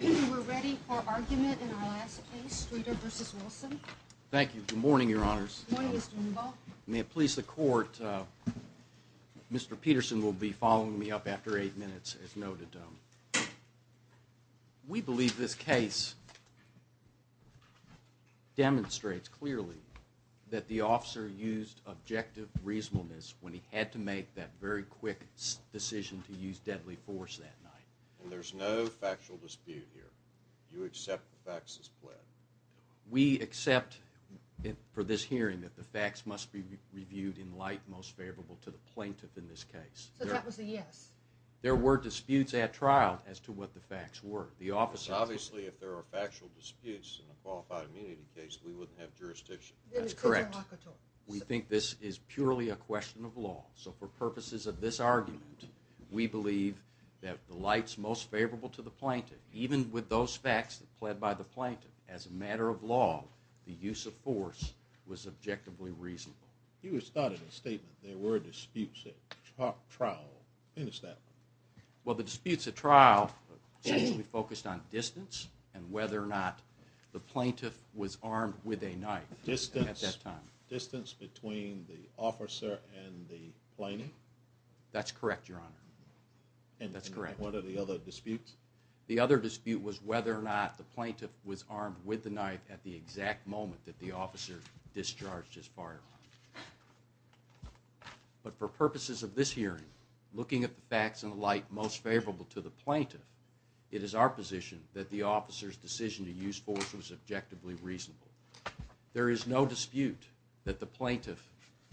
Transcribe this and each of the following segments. We're ready for argument in our last case, Streeter v. Wilson. Thank you. Good morning, your honors. Good morning, Mr. Wimbaugh. May it please the court, Mr. Peterson will be following me up after eight minutes as noted. We believe this case demonstrates clearly that the officer used objective reasonableness when he had to make that very quick decision to use deadly force that night. And there's no factual dispute here. Do you accept the facts as pled? We accept for this hearing that the facts must be reviewed in light most favorable to the plaintiff in this case. So that was a yes? There were disputes at trial as to what the facts were. Obviously, if there are factual disputes in a qualified immunity case, we wouldn't have jurisdiction. That's correct. We think this is purely a question of law. So for purposes of this argument, we believe that the lights most favorable to the plaintiff, even with those facts pled by the plaintiff as a matter of law, the use of force was objectively reasonable. You had started a statement, there were disputes at trial. Finish that. Well, the disputes at trial essentially focused on distance and whether or not the plaintiff was armed with a knife at that time. Distance between the officer and the plaintiff? That's correct, Your Honor. And what are the other disputes? The other dispute was whether or not the plaintiff was armed with the knife at the exact moment that the officer discharged his firearm. But for purposes of this hearing, looking at the facts in light most favorable to the plaintiff, it is our position that the officer's decision to use force was objectively reasonable. There is no dispute that the plaintiff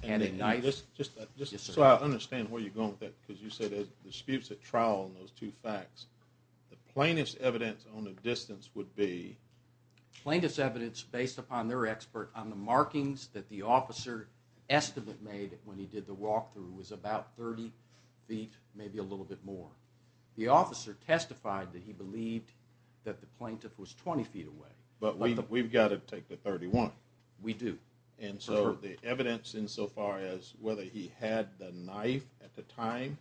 had a knife. Just so I understand where you're going with that, because you said there's disputes at trial in those two facts. The plaintiff's evidence on the distance would be? Plaintiff's evidence based upon their expert on the markings that the officer estimated when he did the walkthrough was about 30 feet, maybe a little bit more. The officer testified that he believed that the plaintiff was 20 feet away. But we've got to take the 31. We do. And so the evidence insofar as whether he had the knife at the time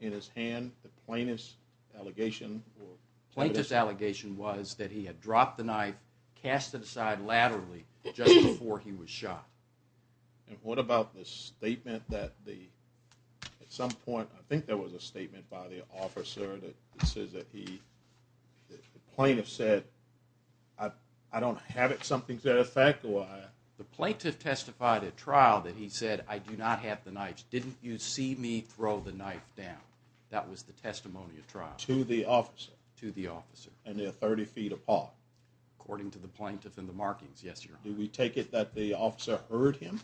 in his hand, the plaintiff's allegation was? The plaintiff's allegation was that he had dropped the knife, cast it aside laterally just before he was shot. And what about the statement that at some point, I think there was a statement by the officer that says that the plaintiff said, I don't have it, something's at effect, or I? The plaintiff testified at trial that he said, I do not have the knife. Didn't you see me throw the knife down? That was the testimony at trial. To the officer? To the officer. And they're 30 feet apart? According to the plaintiff and the markings, yes, Your Honor. Do we take it that the officer heard him?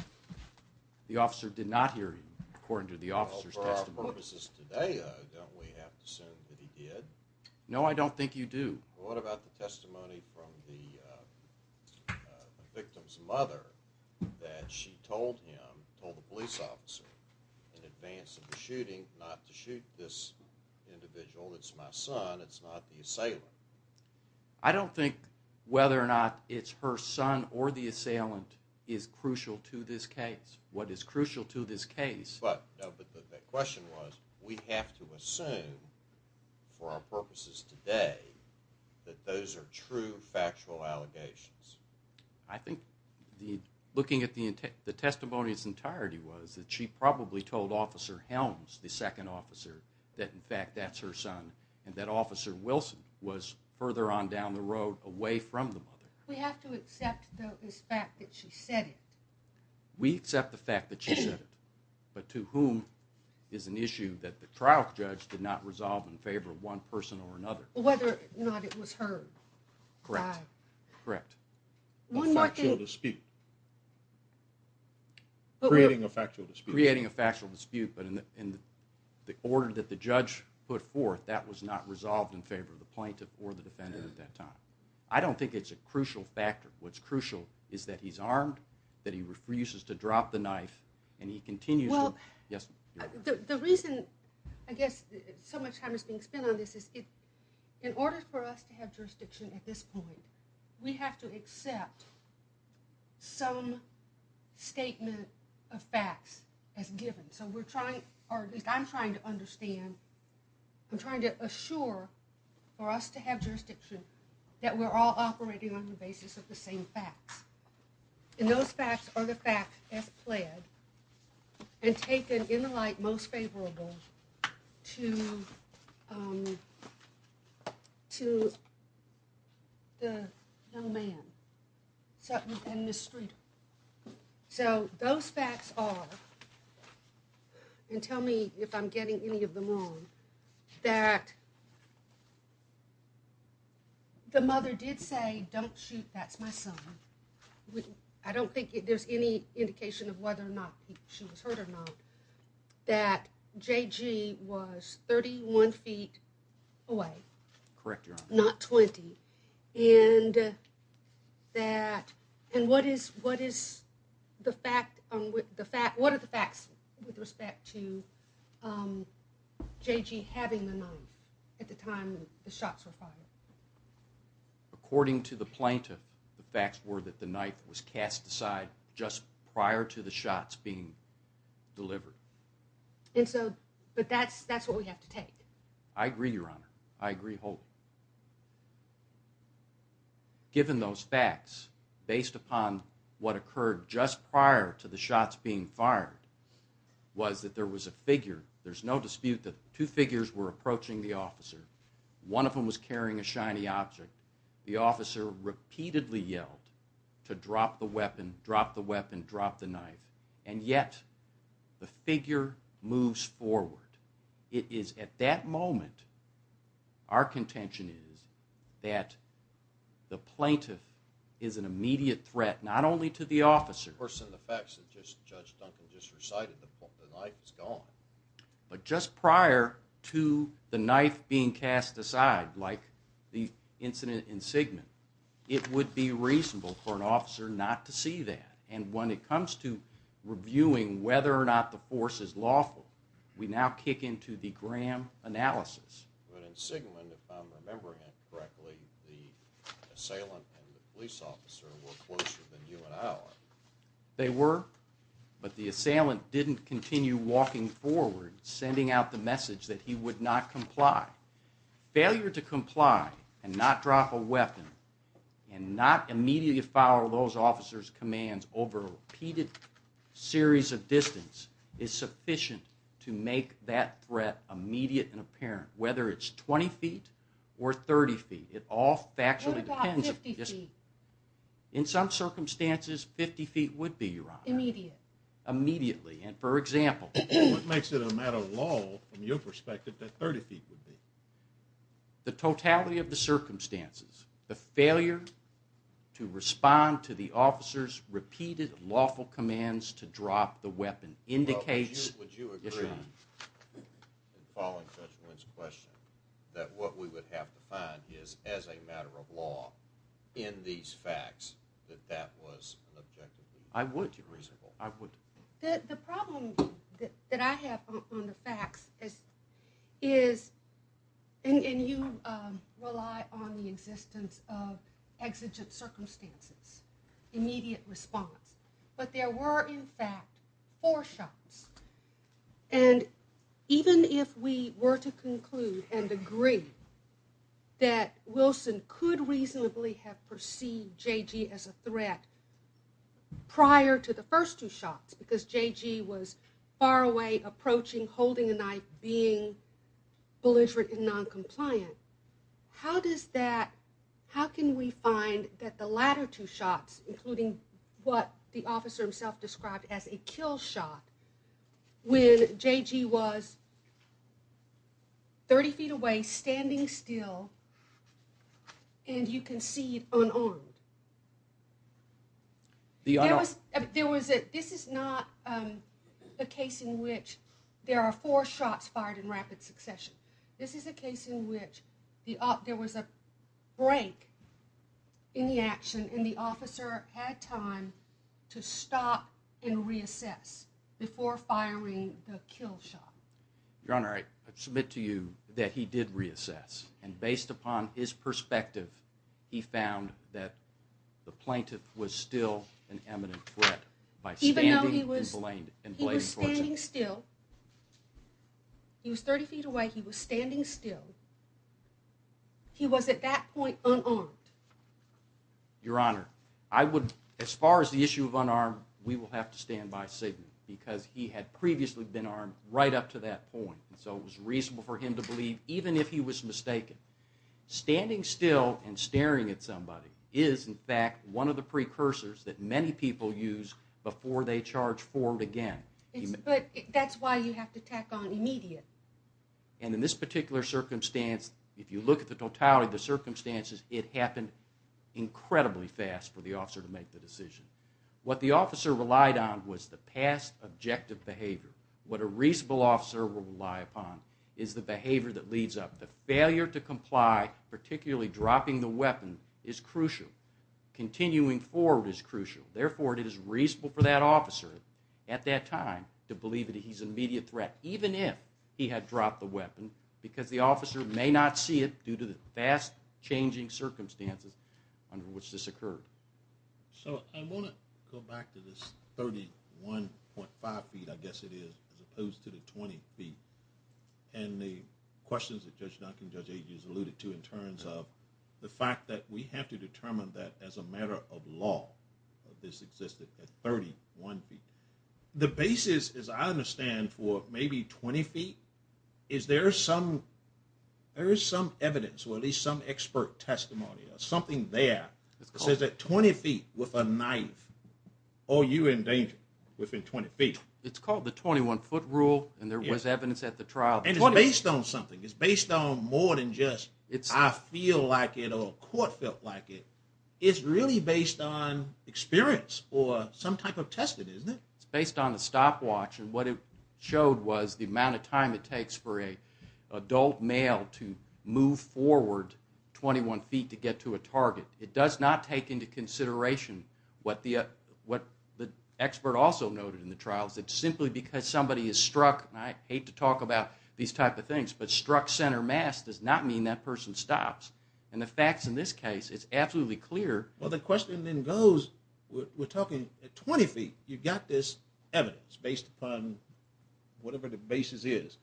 The officer did not hear him, according to the officer's testimony. For our purposes today, don't we have to assume that he did? No, I don't think you do. What about the testimony from the victim's mother that she told him, told the police officer in advance of the shooting not to shoot this individual? It's my son, it's not the assailant. I don't think whether or not it's her son or the assailant is crucial to this case. What is crucial to this case? But the question was, we have to assume for our purposes today that those are true factual allegations. I think looking at the testimony in its entirety was that she probably told Officer Helms, the second officer, that in fact that's her son, and that Officer Wilson was further on down the road away from the mother. We have to accept the fact that she said it. We accept the fact that she said it. But to whom is an issue that the trial judge did not resolve in favor of one person or another? Whether or not it was her. Correct. A factual dispute. Creating a factual dispute. Creating a factual dispute, but in the order that the judge put forth, that was not resolved in favor of the plaintiff or the defendant at that time. I don't think it's a crucial factor. What's crucial is that he's armed, that he refuses to drop the knife, and he continues to. Well, the reason I guess so much time is being spent on this is in order for us to have jurisdiction at this point, we have to accept some statement of facts as given. So we're trying, or at least I'm trying to understand, I'm trying to assure for us to have jurisdiction that we're all operating on the basis of the same facts. And those facts are the facts as pled, and taken in the light most favorable to the young man, Sutton and Ms. Streeter. So those facts are, and tell me if I'm getting any of them wrong, that the mother did say, don't shoot, that's my son. I don't think there's any indication of whether or not she was hurt or not. That JG was 31 feet away. Correct your honor. Not 20. And what are the facts with respect to JG having the knife at the time the shots were fired? According to the plaintiff, the facts were that the knife was cast aside just prior to the shots being delivered. But that's what we have to take. I agree, your honor. I agree wholeheartedly. Given those facts, based upon what occurred just prior to the shots being fired, was that there was a figure. There's no dispute that two figures were approaching the officer. One of them was carrying a shiny object. The officer repeatedly yelled to drop the weapon, drop the weapon, drop the knife. And yet, the figure moves forward. At that moment, our contention is that the plaintiff is an immediate threat, not only to the officer. Of course, in the facts that Judge Duncan just recited, the knife is gone. But just prior to the knife being cast aside, like the incident in Sigmund, it would be reasonable for an officer not to see that. And when it comes to reviewing whether or not the force is lawful, we now kick into the Graham analysis. But in Sigmund, if I'm remembering it correctly, the assailant and the police officer were closer than you and I are. They were, but the assailant didn't continue walking forward, sending out the message that he would not comply. Failure to comply and not drop a weapon and not immediately follow those officers' commands over a repeated series of distance is sufficient to make that threat immediate and apparent, whether it's 20 feet or 30 feet. It all factually depends. What about 50 feet? In some circumstances, 50 feet would be, Your Honor. Immediate. Immediately, and for example. What makes it a matter of law, from your perspective, that 30 feet would be? The totality of the circumstances, the failure to respond to the officers' repeated lawful commands to drop the weapon indicates, Your Honor. Would you agree, following Sgt. Wynne's question, that what we would have to find is, as a matter of law, in these facts, that that was an objective? I would, Your Honor. The problem that I have on the facts is, and you rely on the existence of exigent circumstances, immediate response, but there were, in fact, four shots. And even if we were to conclude and agree that Wilson could reasonably have perceived J.G. as a threat prior to the first two shots because J.G. was far away, approaching, holding a knife, being belligerent and noncompliant, how does that, how can we find that the latter two shots, including what the officer himself described as a kill shot, when J.G. was 30 feet away, standing still, and you can see unarmed? There was a, this is not a case in which there are four shots fired in rapid succession. This is a case in which there was a break in the action and the officer had time to stop and reassess before firing the kill shot. Your Honor, I submit to you that he did reassess, and based upon his perspective, he found that the plaintiff was still an eminent threat. Even though he was standing still, he was 30 feet away, he was standing still, he was at that point unarmed. Your Honor, I would, as far as the issue of unarmed, we will have to stand by Sigmund because he had previously been armed right up to that point, so it was reasonable for him to believe, even if he was mistaken. Standing still and staring at somebody is, in fact, one of the precursors that many people use before they charge forward again. But that's why you have to tack on immediate. And in this particular circumstance, if you look at the totality of the circumstances, it happened incredibly fast for the officer to make the decision. What the officer relied on was the past objective behavior. What a reasonable officer will rely upon is the behavior that leads up. The failure to comply, particularly dropping the weapon, is crucial. Continuing forward is crucial. Therefore, it is reasonable for that officer at that time to believe that he's an immediate threat, even if he had dropped the weapon, because the officer may not see it due to the fast-changing circumstances under which this occurred. So I want to go back to this 31.5 feet, I guess it is, as opposed to the 20 feet and the questions that Judge Duncan and Judge Agins alluded to in terms of the fact that we have to determine that as a matter of law this existed at 31 feet. The basis, as I understand, for maybe 20 feet, is there is some evidence or at least some expert testimony or something there that says that 20 feet with a knife or you're in danger within 20 feet. It's called the 21-foot rule, and there was evidence at the trial. And it's based on something. It's based on more than just I feel like it or a court felt like it. It's really based on experience or some type of testing, isn't it? It's based on a stopwatch, and what it showed was the amount of time it takes for an adult male to move forward 21 feet to get to a target. It does not take into consideration what the expert also noted in the trial, that simply because somebody is struck, and I hate to talk about these type of things, but struck center mass does not mean that person stops. And the facts in this case, it's absolutely clear. Well, the question then goes, we're talking at 20 feet, you've got this evidence that's based upon whatever the basis is,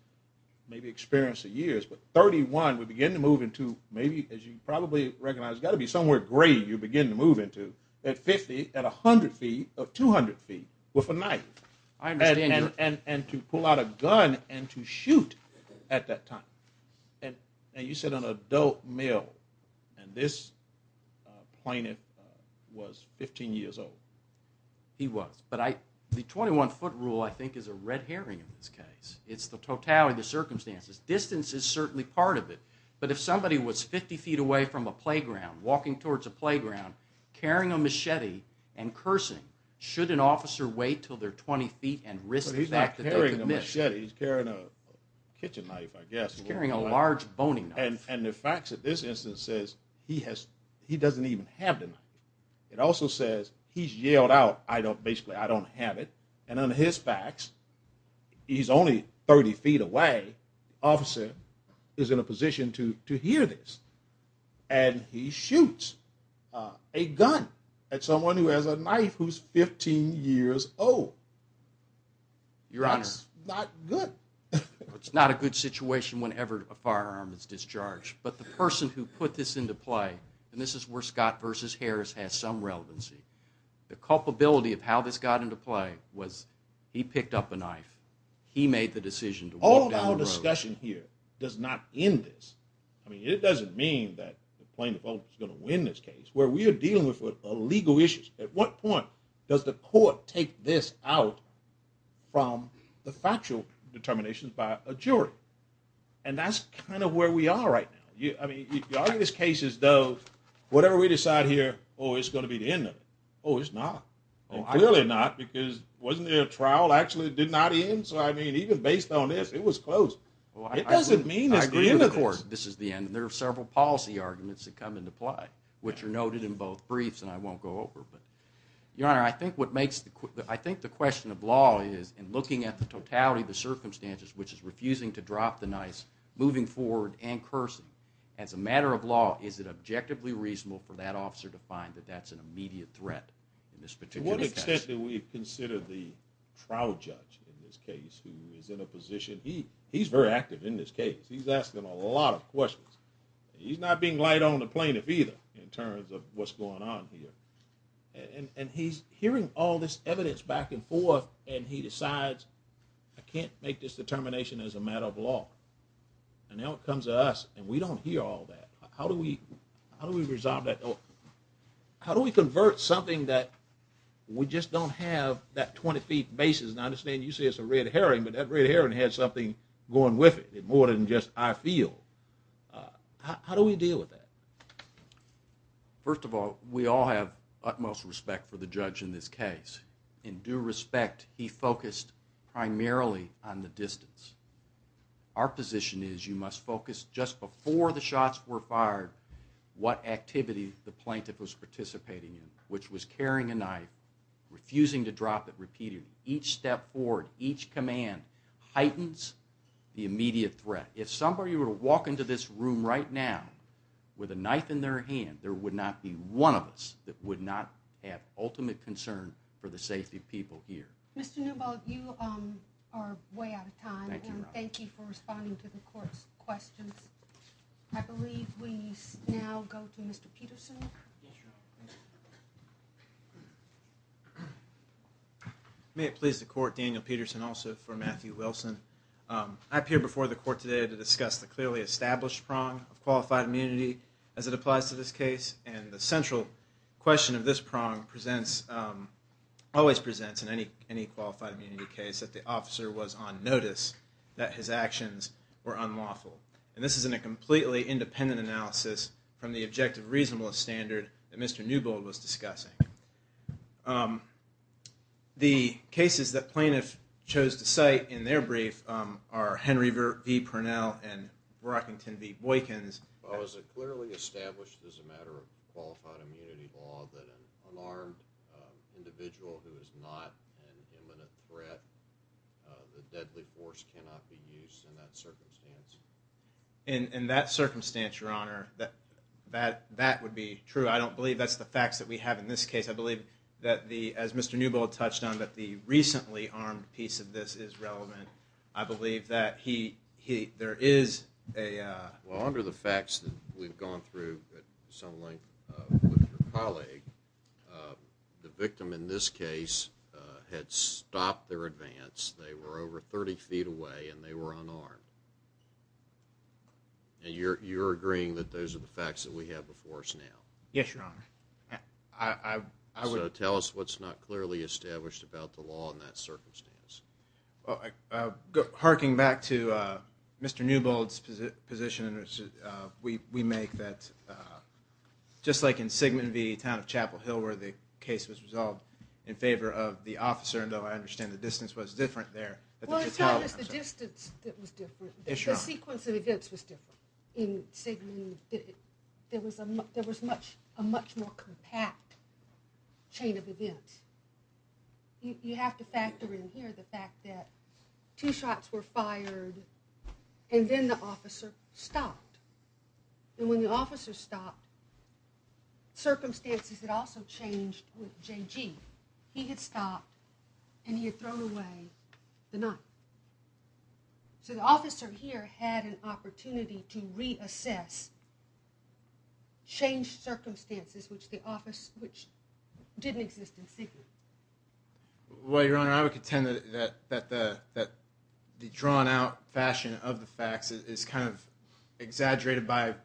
maybe experience of years. But 31, we begin to move into maybe as you probably recognize, it's got to be somewhere gray you begin to move into at 50, at 100 feet or 200 feet with a knife. And to pull out a gun and to shoot at that time. And you said an adult male, and this plaintiff was 15 years old. He was, but the 21-foot rule I think is a red herring in this case. It's the totality of the circumstances. Distance is certainly part of it, but if somebody was 50 feet away from a playground, walking towards a playground, carrying a machete and cursing, should an officer wait until they're 20 feet and risk the fact that they could miss? But he's not carrying a machete, he's carrying a kitchen knife, I guess. He's carrying a large boning knife. And the facts of this instance says he doesn't even have the knife. It also says he's yelled out, basically, I don't have it. And under his facts, he's only 30 feet away. The officer is in a position to hear this. And he shoots a gun at someone who has a knife who's 15 years old. That's not good. It's not a good situation whenever a firearm is discharged. But the person who put this into play, and this is where Scott versus Harris has some relevancy, the culpability of how this got into play was he picked up a knife. He made the decision to walk down the road. All of our discussion here does not end this. I mean, it doesn't mean that the plaintiff is going to win this case. Where we are dealing with legal issues, at what point does the court take this out from the factual determinations by a jury? And that's kind of where we are right now. I mean, if you argue this case as though, whatever we decide here, oh, it's going to be the end of it. Oh, it's not. Clearly not, because wasn't there a trial actually that did not end? So, I mean, even based on this, it was close. It doesn't mean it's the end of this. I agree with the court. This is the end. And there are several policy arguments that come into play, which are noted in both briefs, and I won't go over. But, Your Honor, I think the question of law is, and looking at the totality of the circumstances, which is refusing to drop the knife, moving forward and cursing, as a matter of law, is it objectively reasonable for that officer to find that that's an immediate threat in this particular case? To what extent do we consider the trial judge in this case who is in a position, he's very active in this case. He's asking a lot of questions. He's not being light on the plaintiff either in terms of what's going on here. And he's hearing all this evidence back and forth, and he decides, I can't make this determination as a matter of law. And now it comes to us, and we don't hear all that. How do we resolve that? How do we convert something that we just don't have that 20 feet basis? And I understand you say it's a red herring, but that red herring had something going with it, more than just I feel. How do we deal with that? First of all, we all have utmost respect for the judge in this case. In due respect, he focused primarily on the distance. Our position is you must focus just before the shots were fired, what activity the plaintiff was participating in, which was carrying a knife, refusing to drop it repeatedly. Each step forward, each command heightens the immediate threat. If somebody were to walk into this room right now with a knife in their hand, there would not be one of us that would not have ultimate concern for the safety of people here. Mr. Newball, you are way out of time, and thank you for responding to the court's questions. I believe we now go to Mr. Peterson. May it please the court, Daniel Peterson, also for Matthew Wilson. I appear before the court today to discuss the clearly established prong of qualified immunity as it applies to this case. The central question of this prong always presents in any qualified immunity case that the officer was on notice that his actions were unlawful. This is in a completely independent analysis from the objective reasonableness standard that Mr. Newball was discussing. The cases that plaintiffs chose to cite in their brief are Henry v. Purnell and Brockington v. Boykins. Was it clearly established as a matter of qualified immunity law that an unarmed individual who is not an imminent threat, the deadly force cannot be used in that circumstance? In that circumstance, Your Honor, that would be true. I don't believe that's the facts that we have in this case. I believe that, as Mr. Newball touched on, that the recently armed piece of this is relevant. I believe that there is a... Well, under the facts that we've gone through at some length with your colleague, the victim in this case had stopped their advance. They were over 30 feet away and they were unarmed. And you're agreeing that those are the facts that we have before us now? Yes, Your Honor. So tell us what's not clearly established about the law in that circumstance. Well, harking back to Mr. Newball's position, we make that just like in Sigmund v. Town of Chapel Hill, where the case was resolved in favor of the officer, though I understand the distance was different there. Well, it's not just the distance that was different. The sequence of events was different. In Sigmund, there was a much more compact chain of events. You have to factor in here the fact that two shots were fired and then the officer stopped. And when the officer stopped, circumstances had also changed with J.G. He had stopped and he had thrown away the knife. So the officer here had an opportunity to reassess, change circumstances which didn't exist in Sigmund. Well, Your Honor, I would contend that the drawn-out fashion of the facts is kind of exaggerated by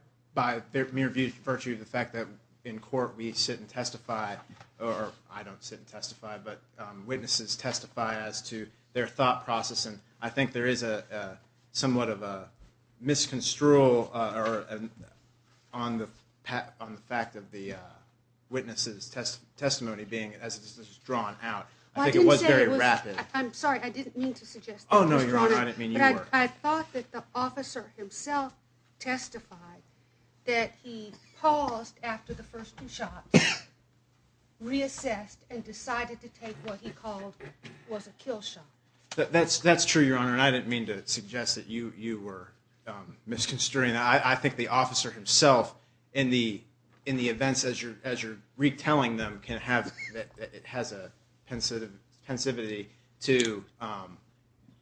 their mere virtue of the fact that in court we sit and testify, or I don't sit and testify, but witnesses testify as to their thought process. And I think there is somewhat of a misconstrual on the fact of the witness's testimony being as it is drawn out. I think it was very rapid. I'm sorry, I didn't mean to suggest that. Oh, no, Your Honor, I didn't mean you were. I thought that the officer himself testified that he paused after the first two shots, reassessed, and decided to take what he called was a kill shot. That's true, Your Honor, and I didn't mean to suggest that you were misconstruing that. I think the officer himself, in the events as you're retelling them, can have, it has a pensivity to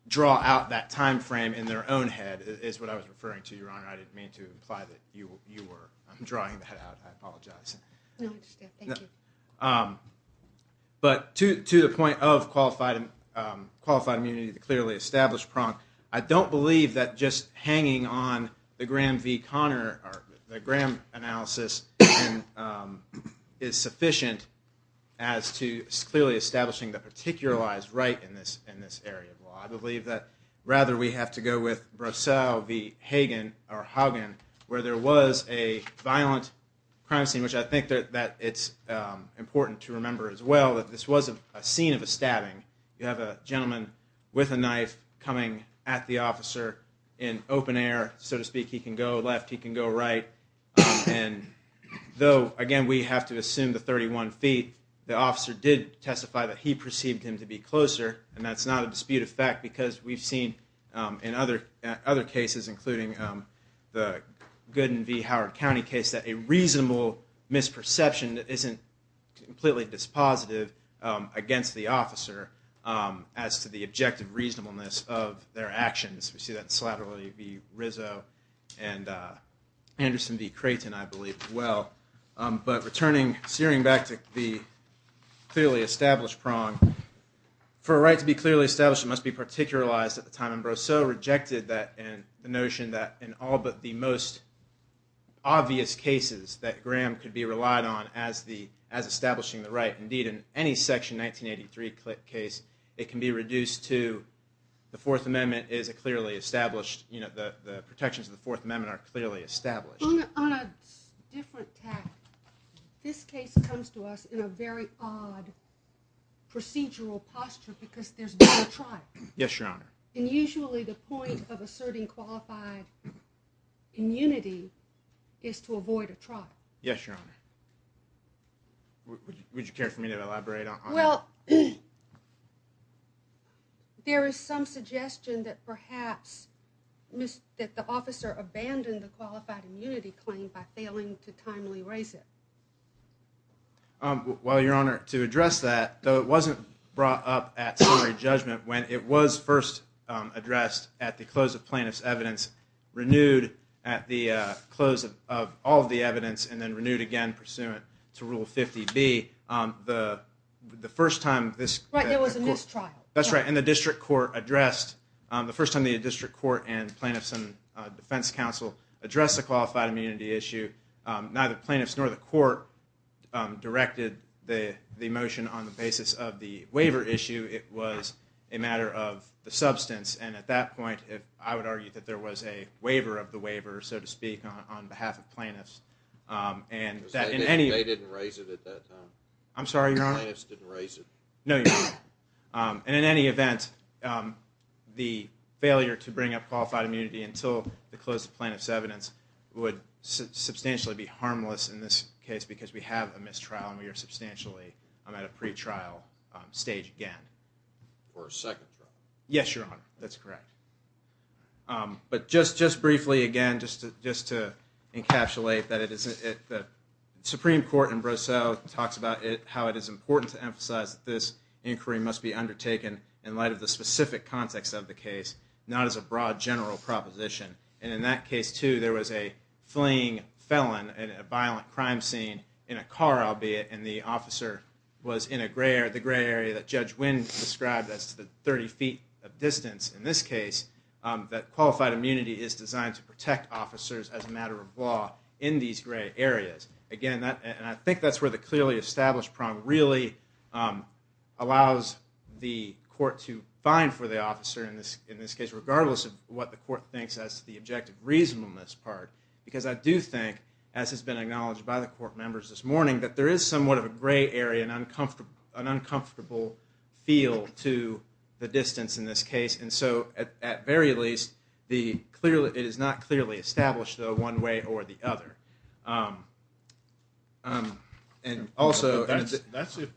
draw out that time frame in their own head, is what I was referring to, Your Honor. I didn't mean to imply that you were drawing that out. I apologize. No, I understand. Thank you. But to the point of qualified immunity, the clearly established prong, I don't believe that just hanging on the Graham v. Conner, the Graham analysis is sufficient as to clearly establishing the particular lies right in this area. Well, I believe that rather we have to go with Brosseau v. Hagen, where there was a violent crime scene, which I think that it's important to remember as well, that this was a scene of a stabbing. You have a gentleman with a knife coming at the officer in open air, so to speak. He can go left. He can go right. And though, again, we have to assume the 31 feet, the officer did testify that he perceived him to be closer, and that's not a dispute of fact because we've seen in other cases, including the Gooden v. Howard County case, that a reasonable misperception isn't completely dispositive against the officer as to the objective reasonableness of their actions. We see that in Slattery v. Rizzo and Anderson v. Creighton, I believe, as well. But searing back to the clearly established prong, for a right to be clearly established, it must be particularized at the time, and Brosseau rejected the notion that in all but the most obvious cases that Graham could be relied on as establishing the right. Indeed, in any Section 1983 case, it can be reduced to the Fourth Amendment is clearly established. The protections of the Fourth Amendment are clearly established. On a different tack, this case comes to us in a very odd procedural posture because there's no trial. Yes, Your Honor. And usually the point of asserting qualified immunity is to avoid a trial. Yes, Your Honor. Well, there is some suggestion that perhaps the officer abandoned the qualified immunity claim by failing to timely raise it. Well, Your Honor, to address that, though it wasn't brought up at summary judgment, when it was first addressed at the close of plaintiff's evidence, renewed at the close of all of the evidence, and then renewed again pursuant to Rule 50B, the first time this court... Right, there was a mistrial. That's right, and the District Court addressed, the first time the District Court and Plaintiffs and Defense Counsel addressed the qualified immunity issue, neither plaintiffs nor the court directed the motion on the basis of the waiver issue. It was a matter of the substance, and at that point, I would argue that there was a waiver of the waiver, so to speak, on behalf of plaintiffs. They didn't raise it at that time? I'm sorry, Your Honor? The plaintiffs didn't raise it? No, Your Honor. And in any event, the failure to bring up qualified immunity until the close of plaintiff's evidence would substantially be harmless in this case because we have a mistrial, and we are substantially at a pretrial stage again. Or a second trial. Yes, Your Honor, that's correct. But just briefly again, just to encapsulate, the Supreme Court in Brosseau talks about how it is important to emphasize that this inquiry must be undertaken in light of the specific context of the case, not as a broad general proposition. And in that case, too, there was a fleeing felon in a violent crime scene in a car, albeit, and the officer was in the gray area that Judge Wynn described as the 30 feet of distance in this case, that qualified immunity is designed to protect officers as a matter of law in these gray areas. Again, and I think that's where the clearly established prong really allows the court to find for the officer in this case, regardless of what the court thinks as the objective reasonableness part. Because I do think, as has been acknowledged by the court members this morning, that there is somewhat of a gray area, an uncomfortable feel to the distance in this case. And so, at very least, it is not clearly established, though, one way or the other. That's if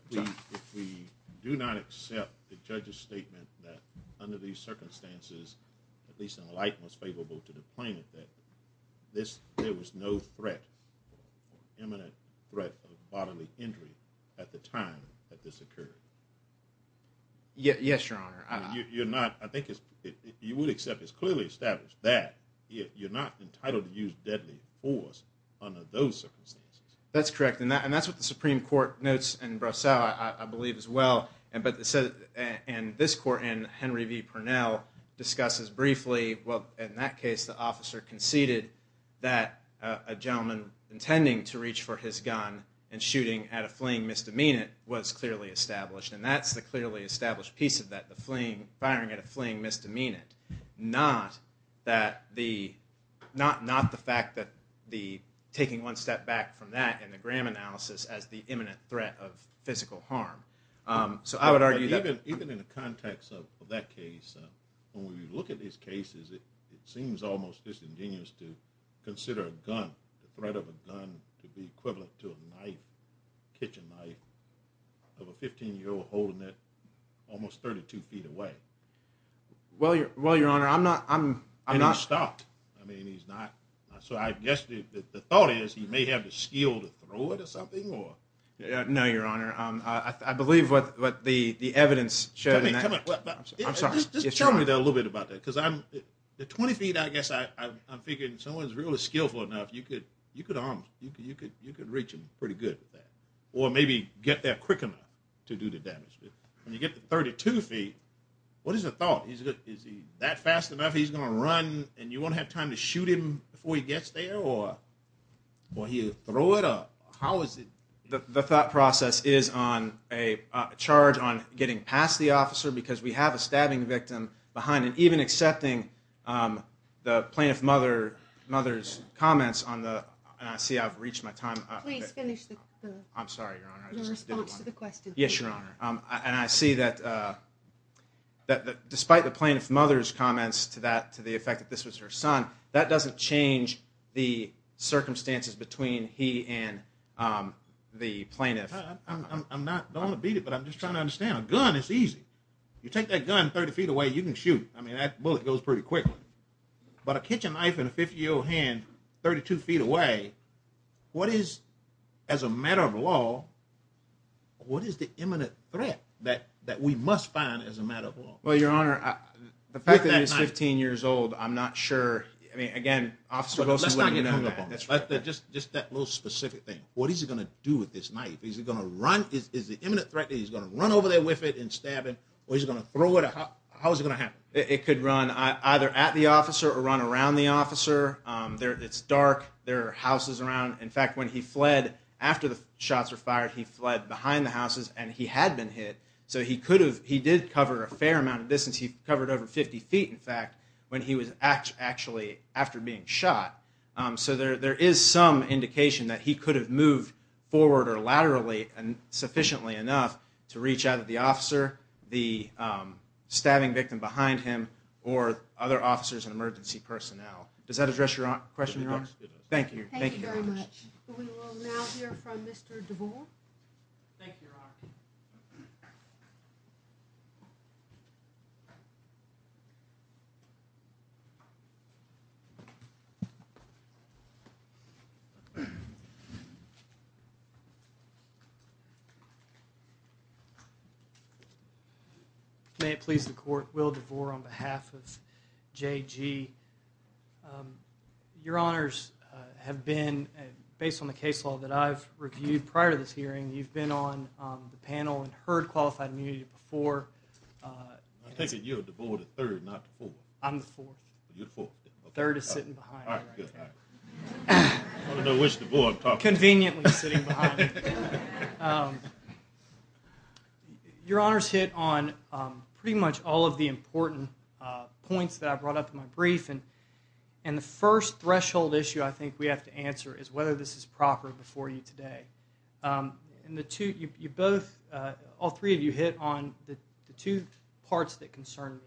we do not accept the judge's statement that under these circumstances, at least in the light most favorable to the plaintiff, that there was no threat, imminent threat of bodily injury at the time that this occurred. Yes, Your Honor. You're not, I think, you would accept it's clearly established that you're not entitled to use deadly force under those circumstances. That's correct, and that's what the Supreme Court notes in Brassell, I believe, as well. And this court, in Henry v. Purnell, discusses briefly, well, in that case, the officer conceded that a gentleman intending to reach for his gun and shooting at a fleeing misdemeanant was clearly established. And that's the clearly established piece of that, firing at a fleeing misdemeanant, not the fact that taking one step back from that in the Graham analysis as the imminent threat of physical harm. So I would argue that... Even in the context of that case, when we look at these cases, it seems almost disingenuous to consider a gun, the threat of a gun, to be equivalent to a knife, kitchen knife, of a 15-year-old holding it almost 32 feet away. Well, Your Honor, I'm not... And he's stopped. I mean, he's not. So I guess the thought is he may have the skill to throw it or something, or... No, Your Honor. I believe what the evidence showed in that... Come on. I'm sorry. Just tell me a little bit about that, because I'm... At 20 feet, I guess I'm thinking someone's really skillful enough, you could arm him, you could reach him pretty good with that, or maybe get there quick enough to do the damage. When you get to 32 feet, what is the thought? Is he that fast enough he's going to run, and you won't have time to shoot him before he gets there, or he'll throw it up? How is it... The thought process is on a charge on getting past the officer, because we have a stabbing victim behind him, even accepting the plaintiff mother's comments on the... And I see I've reached my time. Please finish the response to the question. Yes, Your Honor. And I see that despite the plaintiff mother's comments to that, to the effect that this was her son, that doesn't change the circumstances between he and the plaintiff. I'm not going to beat it, but I'm just trying to understand. A gun is easy. You take that gun 30 feet away, you can shoot. I mean, that bullet goes pretty quickly. But a kitchen knife in a 50-year-old hand 32 feet away, what is, as a matter of law, what is the imminent threat that we must find as a matter of law? Well, Your Honor, the fact that it's 15 years old, I'm not sure. I mean, again, officer, let's not get hung up on this. Just that little specific thing. What is he going to do with this knife? Is he going to run? Is the imminent threat that he's going to run over there with it and stab him, or is he going to throw it? How is it going to happen? It could run either at the officer or run around the officer. It's dark. There are houses around. In fact, when he fled, after the shots were fired, he fled behind the houses and he had been hit, so he did cover a fair amount of distance. He covered over 50 feet, in fact, when he was actually after being shot. So there is some indication that he could have moved forward or laterally sufficiently enough to reach out at the officer, the stabbing victim behind him, or other officers and emergency personnel. Does that address your question, Your Honor? It does. Thank you. Thank you very much. We will now hear from Mr. DeVore. Thank you, Your Honor. May it please the Court, Will DeVore on behalf of JG. Your Honors, based on the case law that I've reviewed prior to this hearing, you've been on the panel and heard qualified immunity before. I think that you're DeVore the third, not the fourth. I'm the fourth. You're the fourth. The third is sitting behind me right now. All right, good. I don't know which DeVore I'm talking about. Conveniently sitting behind me. Your Honors hit on pretty much all of the important points that I brought up in my brief, and the first threshold issue I think we have to answer is whether this is proper before you today. All three of you hit on the two parts that concern me.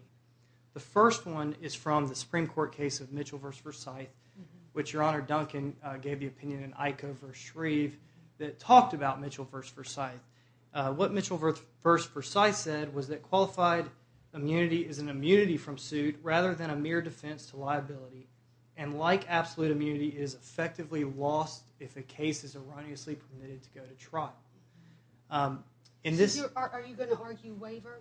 The first one is from the Supreme Court case of Mitchell v. Versailles, which Your Honor Duncan gave the opinion in IKO v. Shreve that talked about Mitchell v. Versailles. What Mitchell v. Versailles said was that qualified immunity is an immunity from suit rather than a mere defense to liability, and like absolute immunity, it is effectively lost if a case is erroneously permitted to go to trial. Are you going to argue waiver?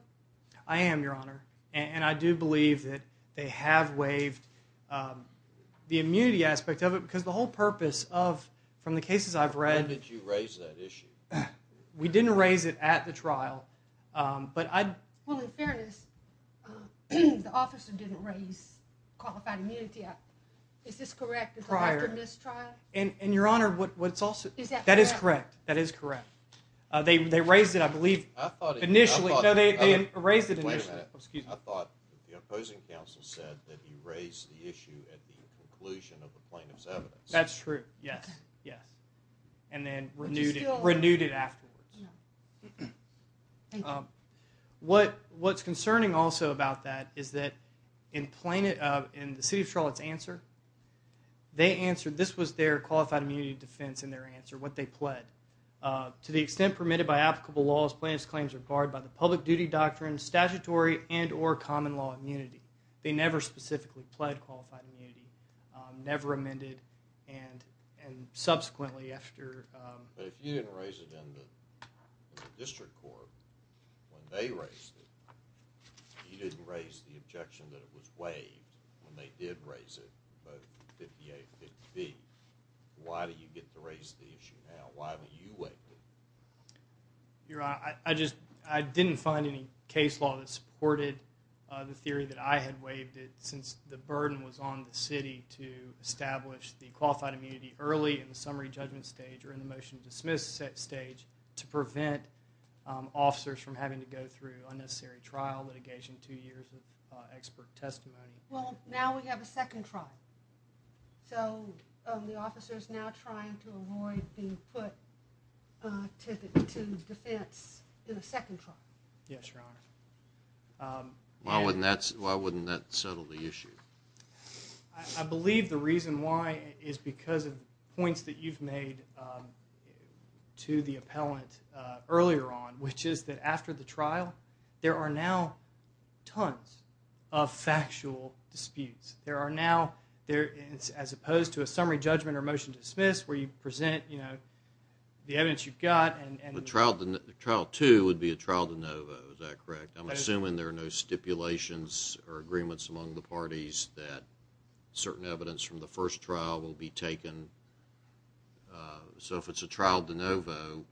I am, Your Honor, and I do believe that they have waived the immunity aspect of it because the whole purpose of, from the cases I've read. When did you raise that issue? We didn't raise it at the trial. Well, in fairness, the officer didn't raise qualified immunity. Is this correct? Prior to this trial? And Your Honor, that is correct. They raised it, I believe, initially. Wait a minute. I thought the opposing counsel said that he raised the issue at the conclusion of the plaintiff's evidence. That's true, yes, yes, and then renewed it afterwards. Thank you. What's concerning also about that is that in the city of Charlotte's answer, they answered this was their qualified immunity defense in their answer, what they pled. To the extent permitted by applicable laws, plaintiff's claims are barred by the public duty doctrine, statutory, and or common law immunity. They never specifically pled qualified immunity, never amended, and subsequently after. But if you didn't raise it in the district court when they raised it, you didn't raise the objection that it was waived when they did raise it in 5850B, why do you get to raise the issue now? Why would you waive it? Your Honor, I didn't find any case law that supported the theory that I had waived it since the burden was on the city to establish the qualified immunity early in the summary judgment stage or in the motion to dismiss stage to prevent officers from having to go through unnecessary trial litigation, two years of expert testimony. Well, now we have a second trial. So the officer is now trying to avoid being put to defense in a second trial. Yes, Your Honor. Why wouldn't that settle the issue? I believe the reason why is because of points that you've made to the appellant earlier on, which is that after the trial, there are now tons of factual disputes. There are now, as opposed to a summary judgment or motion to dismiss where you present the evidence you've got. The trial two would be a trial de novo, is that correct? I'm assuming there are no stipulations or agreements among the parties that certain evidence from the first trial will be taken. So if it's a trial de novo,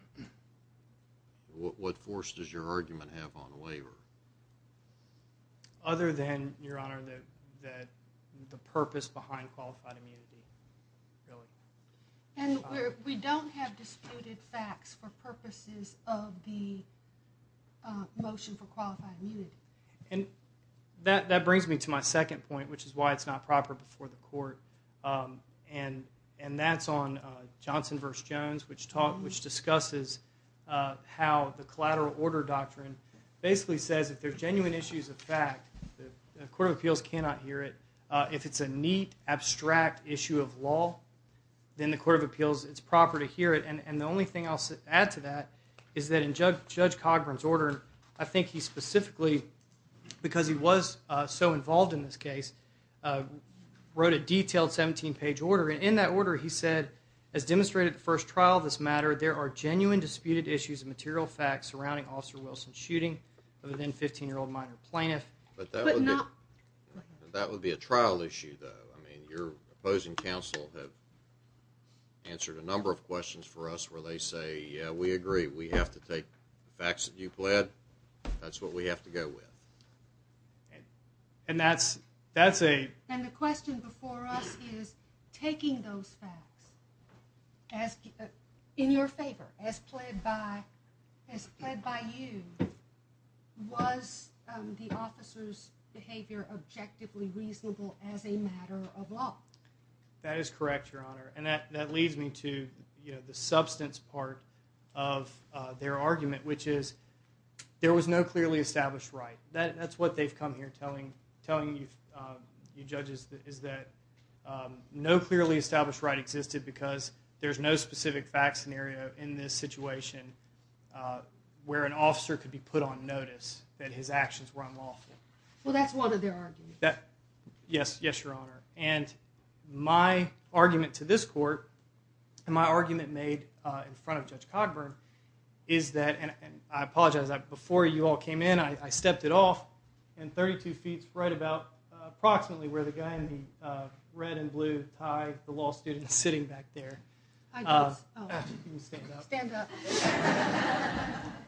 what force does your argument have on a waiver? Other than, Your Honor, the purpose behind qualified immunity. And we don't have disputed facts for purposes of the motion for qualified immunity. And that brings me to my second point, which is why it's not proper before the court, and that's on Johnson v. Jones, which discusses how the collateral order doctrine basically says if there are genuine issues of fact, the court of appeals cannot hear it. If it's a neat, abstract issue of law, then the court of appeals, it's proper to hear it. And the only thing I'll add to that is that in Judge Cogburn's order, I think he specifically, because he was so involved in this case, wrote a detailed 17-page order. And in that order he said, as demonstrated at the first trial of this matter, there are genuine disputed issues of material facts surrounding Officer Wilson's shooting other than 15-year-old minor plaintiff. But that would be a trial issue, though. I mean, your opposing counsel have answered a number of questions for us where they say, yeah, we agree, we have to take the facts that you pled, that's what we have to go with. And that's a... And the question before us is, taking those facts in your favor, as pled by you, was the officer's behavior objectively reasonable as a matter of law? That is correct, Your Honor. And that leads me to the substance part of their argument, which is there was no clearly established right. That's what they've come here telling you judges, is that no clearly established right existed because there's no specific fact scenario in this situation where an officer could be put on notice that his actions were unlawful. Well, that's one of their arguments. Yes, Your Honor. And my argument to this court, and my argument made in front of Judge Cogburn, is that, and I apologize, before you all came in I stepped it off, and 32 feet, right about approximately where the guy in the red and blue tie, the law student sitting back there... Stand up.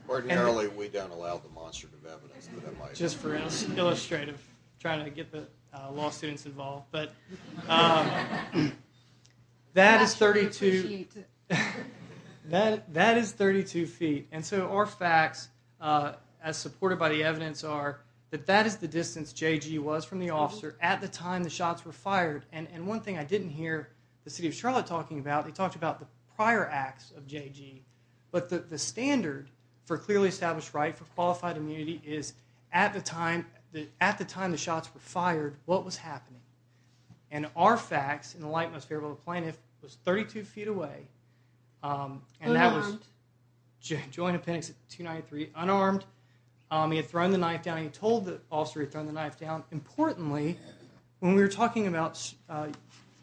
Ordinarily we don't allow demonstrative evidence. Just for illustrative, trying to get the law students involved. But that is 32 feet. And so our facts, as supported by the evidence, are that that is the distance J.G. was from the officer at the time the shots were fired. And one thing I didn't hear the City of Charlotte talking about, they talked about the prior acts of J.G., but the standard for clearly established right for qualified immunity is at the time the shots were fired, what was happening. And our facts, in the light most favorable to plaintiff, was 32 feet away. Unarmed. Joint appendix 293, unarmed. He had thrown the knife down. He told the officer he had thrown the knife down. Importantly, when we were talking about...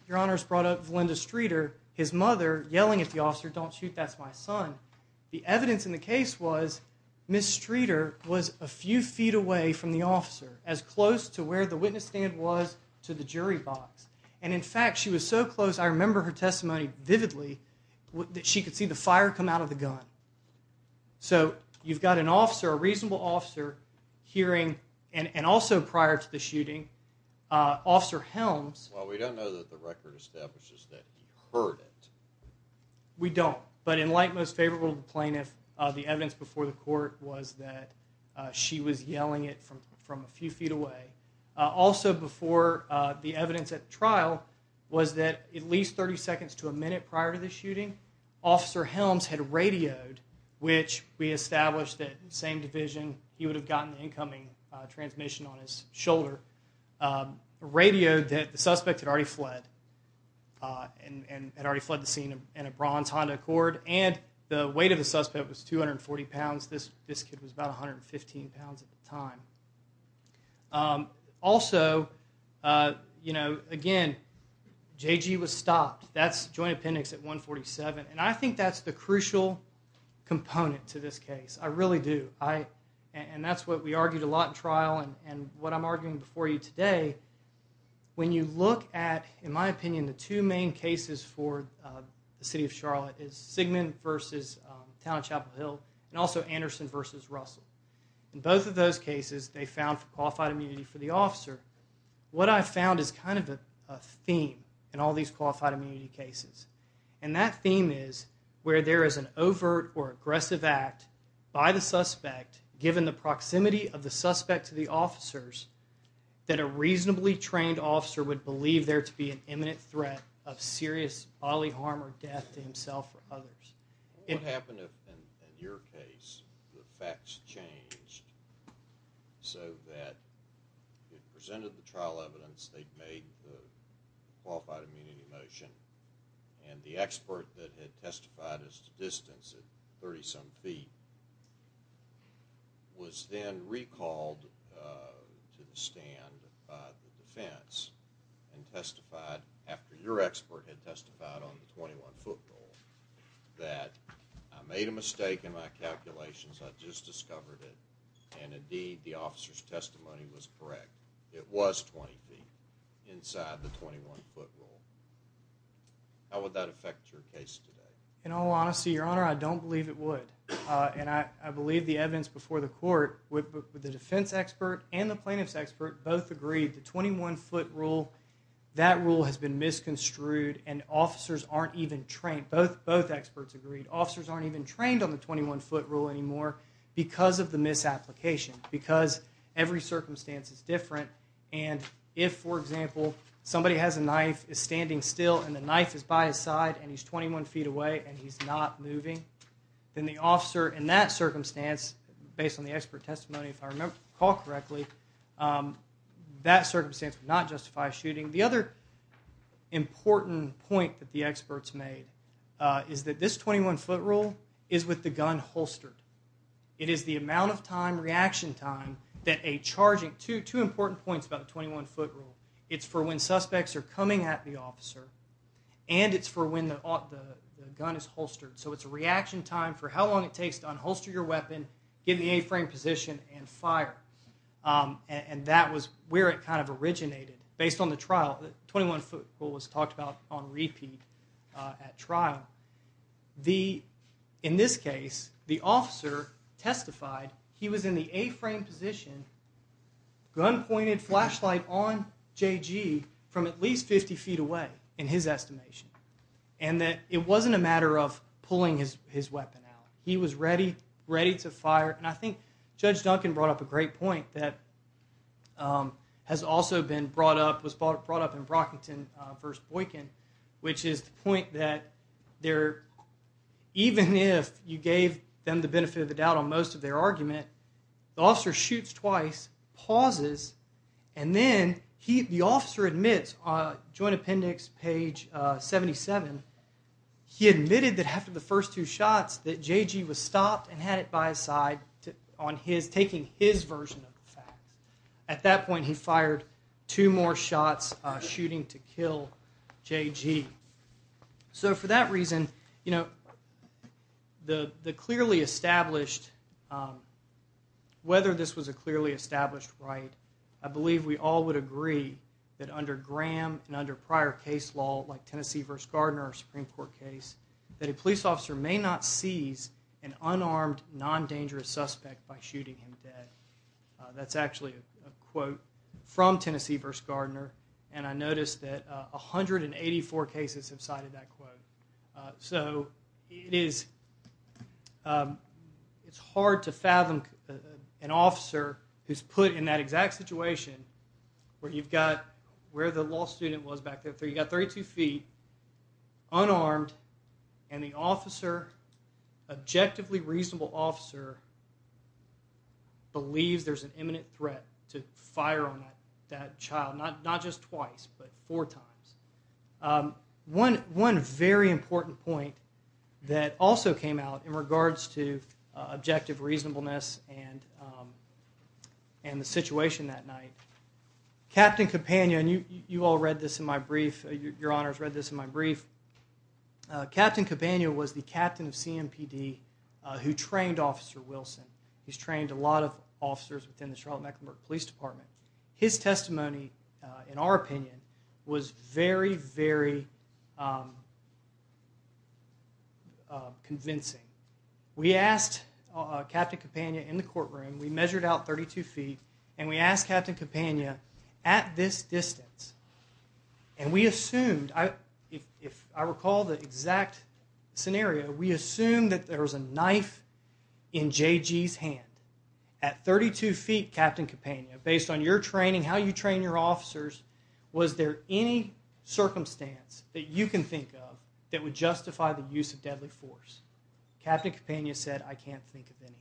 Your Honors brought up Valinda Streeter, his mother yelling at the officer, don't shoot, that's my son. The evidence in the case was Ms. Streeter was a few feet away from the officer, as close to where the witness stand was to the jury box. And in fact, she was so close, I remember her testimony vividly, that she could see the fire come out of the gun. So, you've got an officer, a reasonable officer, hearing, and also prior to the shooting, Officer Helms... Well, we don't know that the record establishes that he heard it. We don't. But in light most favorable to the plaintiff, the evidence before the court was that she was yelling it from a few feet away. Also, before the evidence at the trial, was that at least 30 seconds to a minute prior to the shooting, Officer Helms had radioed, which we established that same division, he would have gotten the incoming transmission on his shoulder, radioed that the suspect had already fled, and had already fled the scene in a bronze Honda Accord, and the weight of the suspect was 240 pounds. This kid was about 115 pounds at the time. Also, you know, again, JG was stopped. That's joint appendix at 147. And I think that's the crucial component to this case. I really do. And that's what we argued a lot in trial, and what I'm arguing before you today. When you look at, in my opinion, the two main cases for the city of Charlotte is Sigmund versus the town of Chapel Hill, and also Anderson versus Russell. In both of those cases, they found qualified immunity for the officer. What I found is kind of a theme in all these qualified immunity cases, and that theme is where there is an overt or aggressive act by the suspect, given the proximity of the suspect to the officers, that a reasonably trained officer would believe there to be an imminent threat of serious bodily harm or death to himself or others. What would happen if, in your case, the facts changed so that they presented the trial evidence, they made the qualified immunity motion, and the expert that had testified as to distance at 30-some feet was then recalled to the stand by the defense and testified after your expert had testified on the 21-foot rule that I made a mistake in my calculations, I just discovered it, and indeed the officer's testimony was correct. It was 20 feet inside the 21-foot rule. How would that affect your case today? In all honesty, Your Honor, I don't believe it would, and I believe the evidence before the court, with the defense expert and the plaintiff's expert both agreed the 21-foot rule, that rule has been misconstrued, and officers aren't even trained. Both experts agreed. Officers aren't even trained on the 21-foot rule anymore because of the misapplication, because every circumstance is different, and if, for example, somebody has a knife, is standing still, and the knife is by his side, and he's 21 feet away, and he's not moving, then the officer in that circumstance, based on the expert testimony, if I recall correctly, that circumstance would not justify shooting. The other important point that the experts made is that this 21-foot rule is with the gun holstered. It is the amount of time, reaction time, that a charging, two important points about the 21-foot rule. It's for when suspects are coming at the officer, and it's for when the gun is holstered. So it's a reaction time for how long it takes to unholster your weapon, give the A-frame position, and fire. And that was where it kind of originated. Based on the trial, the 21-foot rule was talked about on repeat at trial, in this case, the officer testified he was in the A-frame position, gun pointed, flashlight on J.G. from at least 50 feet away, in his estimation, and that it wasn't a matter of pulling his weapon out. He was ready to fire, and I think Judge Duncan brought up a great point that has also been brought up, was brought up in Brockington v. Boykin, which is the point that even if you gave them the benefit of the doubt on most of their argument, the officer shoots twice, pauses, and then the officer admits on Joint Appendix page 77, he admitted that after the first two shots that J.G. was stopped and had it by his side, taking his version of the facts. At that point, he fired two more shots, shooting to kill J.G. So for that reason, the clearly established, whether this was a clearly established right, I believe we all would agree that under Graham and under prior case law like Tennessee v. Gardner or Supreme Court case, that a police officer may not seize an unarmed, non-dangerous suspect by shooting him dead. That's actually a quote from Tennessee v. Gardner, and I noticed that 184 cases have cited that quote. So it's hard to fathom an officer who's put in that exact situation where you've got where the law student was back there. You've got 32 feet, unarmed, and the officer, objectively reasonable officer, believes there's an imminent threat to fire on that child, not just twice, but four times. One very important point that also came out in regards to objective reasonableness and the situation that night, Captain Campagna, and you all read this in my brief, Your Honors read this in my brief, Captain Campagna was the captain of CMPD who trained Officer Wilson. He's trained a lot of officers within the Charlotte-Mecklenburg Police Department. His testimony, in our opinion, was very, very convincing. We asked Captain Campagna in the courtroom, we measured out 32 feet, and we asked Captain Campagna at this distance, and we assumed, if I recall the exact scenario, we assumed that there was a knife in J.G.'s hand. At 32 feet, Captain Campagna, based on your training, how you train your officers, was there any circumstance that you can think of that would justify the use of deadly force? Captain Campagna said, I can't think of any.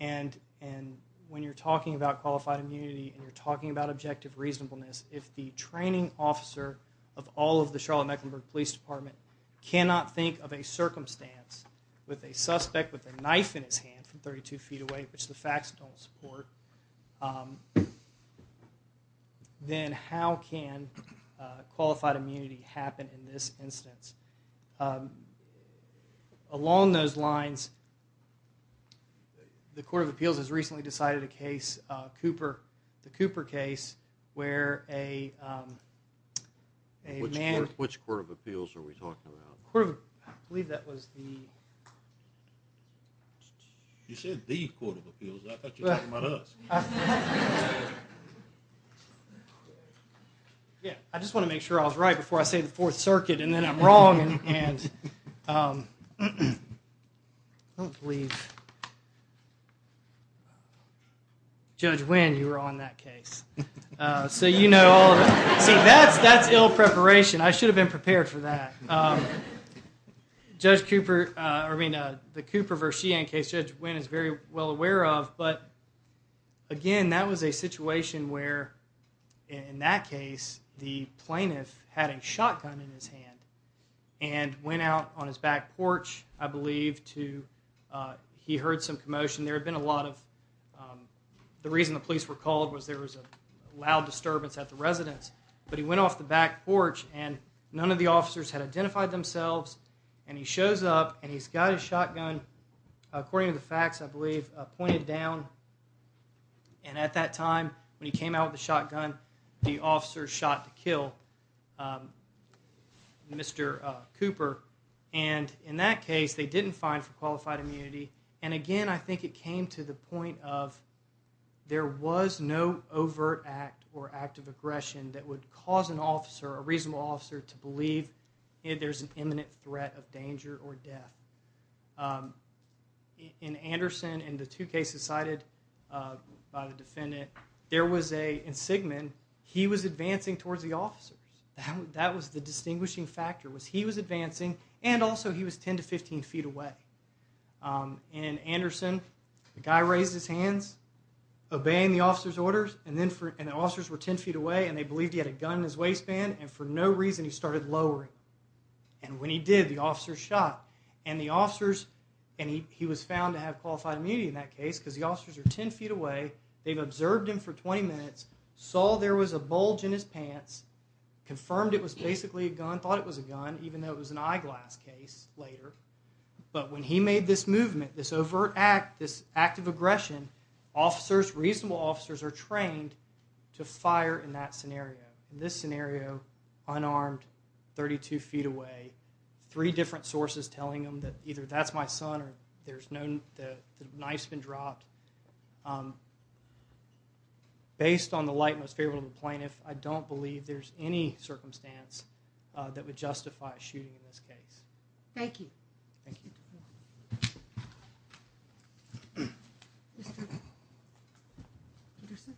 And when you're talking about qualified immunity and you're talking about objective reasonableness, if the training officer of all of the Charlotte-Mecklenburg Police Department cannot think of a circumstance with a suspect with a knife in his hand from 32 feet away, which the facts don't support, then how can qualified immunity happen in this instance? Along those lines, the Court of Appeals has recently decided a case. The Cooper case, where a man... Which Court of Appeals are we talking about? I believe that was the... You said the Court of Appeals. I thought you were talking about us. I just want to make sure I was right before I say the Fourth Circuit, and then I'm wrong. I don't believe... Judge Winn, you were on that case. See, that's ill preparation. I should have been prepared for that. The Cooper v. Sheehan case, Judge Winn is very well aware of, but again, that was a situation where, in that case, the plaintiff had a shotgun in his hand and went out on his back porch, I believe, to... He heard some commotion. There had been a lot of... The reason the police were called was there was a loud disturbance at the residence, but he went off the back porch, and none of the officers had identified themselves, and he shows up, and he's got his shotgun, according to the facts, I believe, pointed down, and at that time, when he came out with the shotgun, the officer shot to kill Mr. Cooper, and in that case, they didn't find for qualified immunity, and again, I think it came to the point of there was no overt act or act of aggression that would cause an officer, a reasonable officer, to believe there's an imminent threat of danger or death. In Anderson and the two cases cited by the defendant, in Sigmund, he was advancing towards the officers. That was the distinguishing factor, was he was advancing, and also, he was 10 to 15 feet away. In Anderson, the guy raised his hands, obeying the officer's orders, and the officers were 10 feet away, and they believed he had a gun in his waistband, and for no reason, he started lowering, and when he did, the officers shot, and the officers... He was found to have qualified immunity in that case because the officers are 10 feet away. They've observed him for 20 minutes, saw there was a bulge in his pants, confirmed it was basically a gun, thought it was a gun, even though it was an eyeglass case later, but when he made this movement, this overt act, this act of aggression, officers, reasonable officers, are trained to fire in that scenario. In this scenario, unarmed, 32 feet away, three different sources telling him that either that's my son or the knife's been dropped. Based on the light most favorable to the plaintiff, I don't believe there's any circumstance that would justify a shooting in this case. Thank you. Thank you. Mr. Anderson?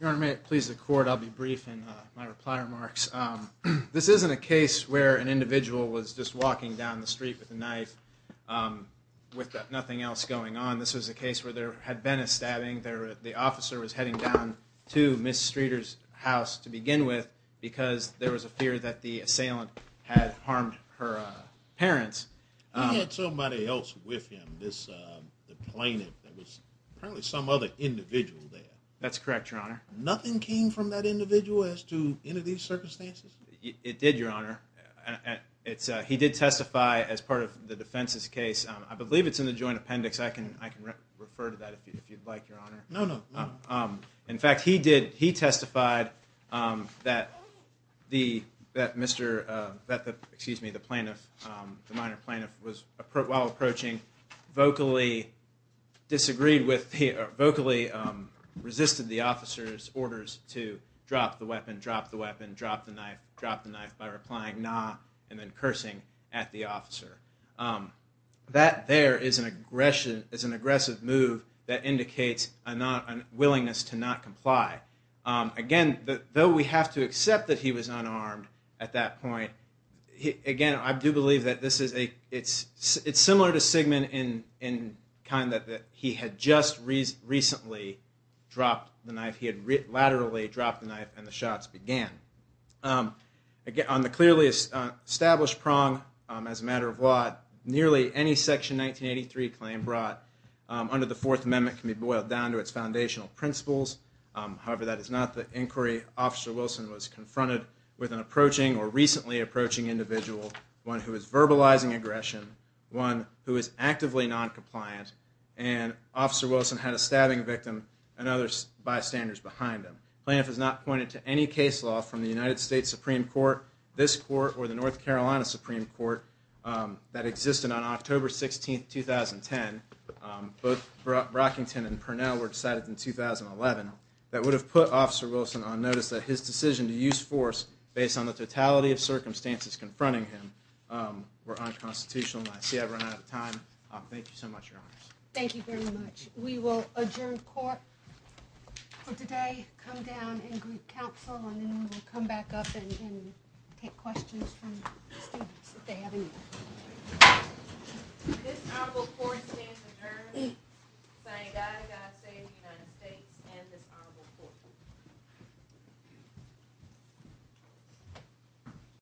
Your Honor, may it please the Court, I'll be brief in my reply remarks. This isn't a case where an individual was just walking down the street with a knife with nothing else going on. This was a case where there had been a stabbing. The officer was heading down to Ms. Streeter's house to begin with because there was a fear that the assailant had harmed her parents. He had somebody else with him, the plaintiff. That's correct, Your Honor. Nothing came from that individual as to any of these circumstances? It did, Your Honor. He did testify as part of the defense's case. I believe it's in the joint appendix. I can refer to that if you'd like, Your Honor. No, no. In fact, he testified that the minor plaintiff, while approaching, vocally resisted the officer's orders to drop the weapon, drop the knife, by replying, nah, and then cursing at the officer. That there is an aggressive move that indicates a willingness to not comply. Again, though we have to accept that he was unarmed at that point, I do believe that it's similar to Sigmund in that he had just recently dropped the knife. He had laterally dropped the knife and the shots began. On the clearly established prong, as a matter of law, nearly any Section 1983 claim brought under the Fourth Amendment can be boiled down to its foundational principles. However, that is not the inquiry Officer Wilson was confronted with as an approaching or recently approaching individual, one who is verbalizing aggression, one who is actively noncompliant, and Officer Wilson had a stabbing victim and other bystanders behind him. Plaintiff has not pointed to any case law from the United States Supreme Court, this court, or the North Carolina Supreme Court that existed on October 16, 2010. Both Brockington and Purnell were decided in 2011. That would have put Officer Wilson on notice that his decision to use force based on the totality of circumstances confronting him were unconstitutional. I see I've run out of time. Thank you so much, Your Honors. Thank you very much. We will adjourn court for today, come down and group counsel, and then we will come back up and take questions from the students if they have any. This Honorable Court stands adjourned. Thank God, God save the United States and this Honorable Court.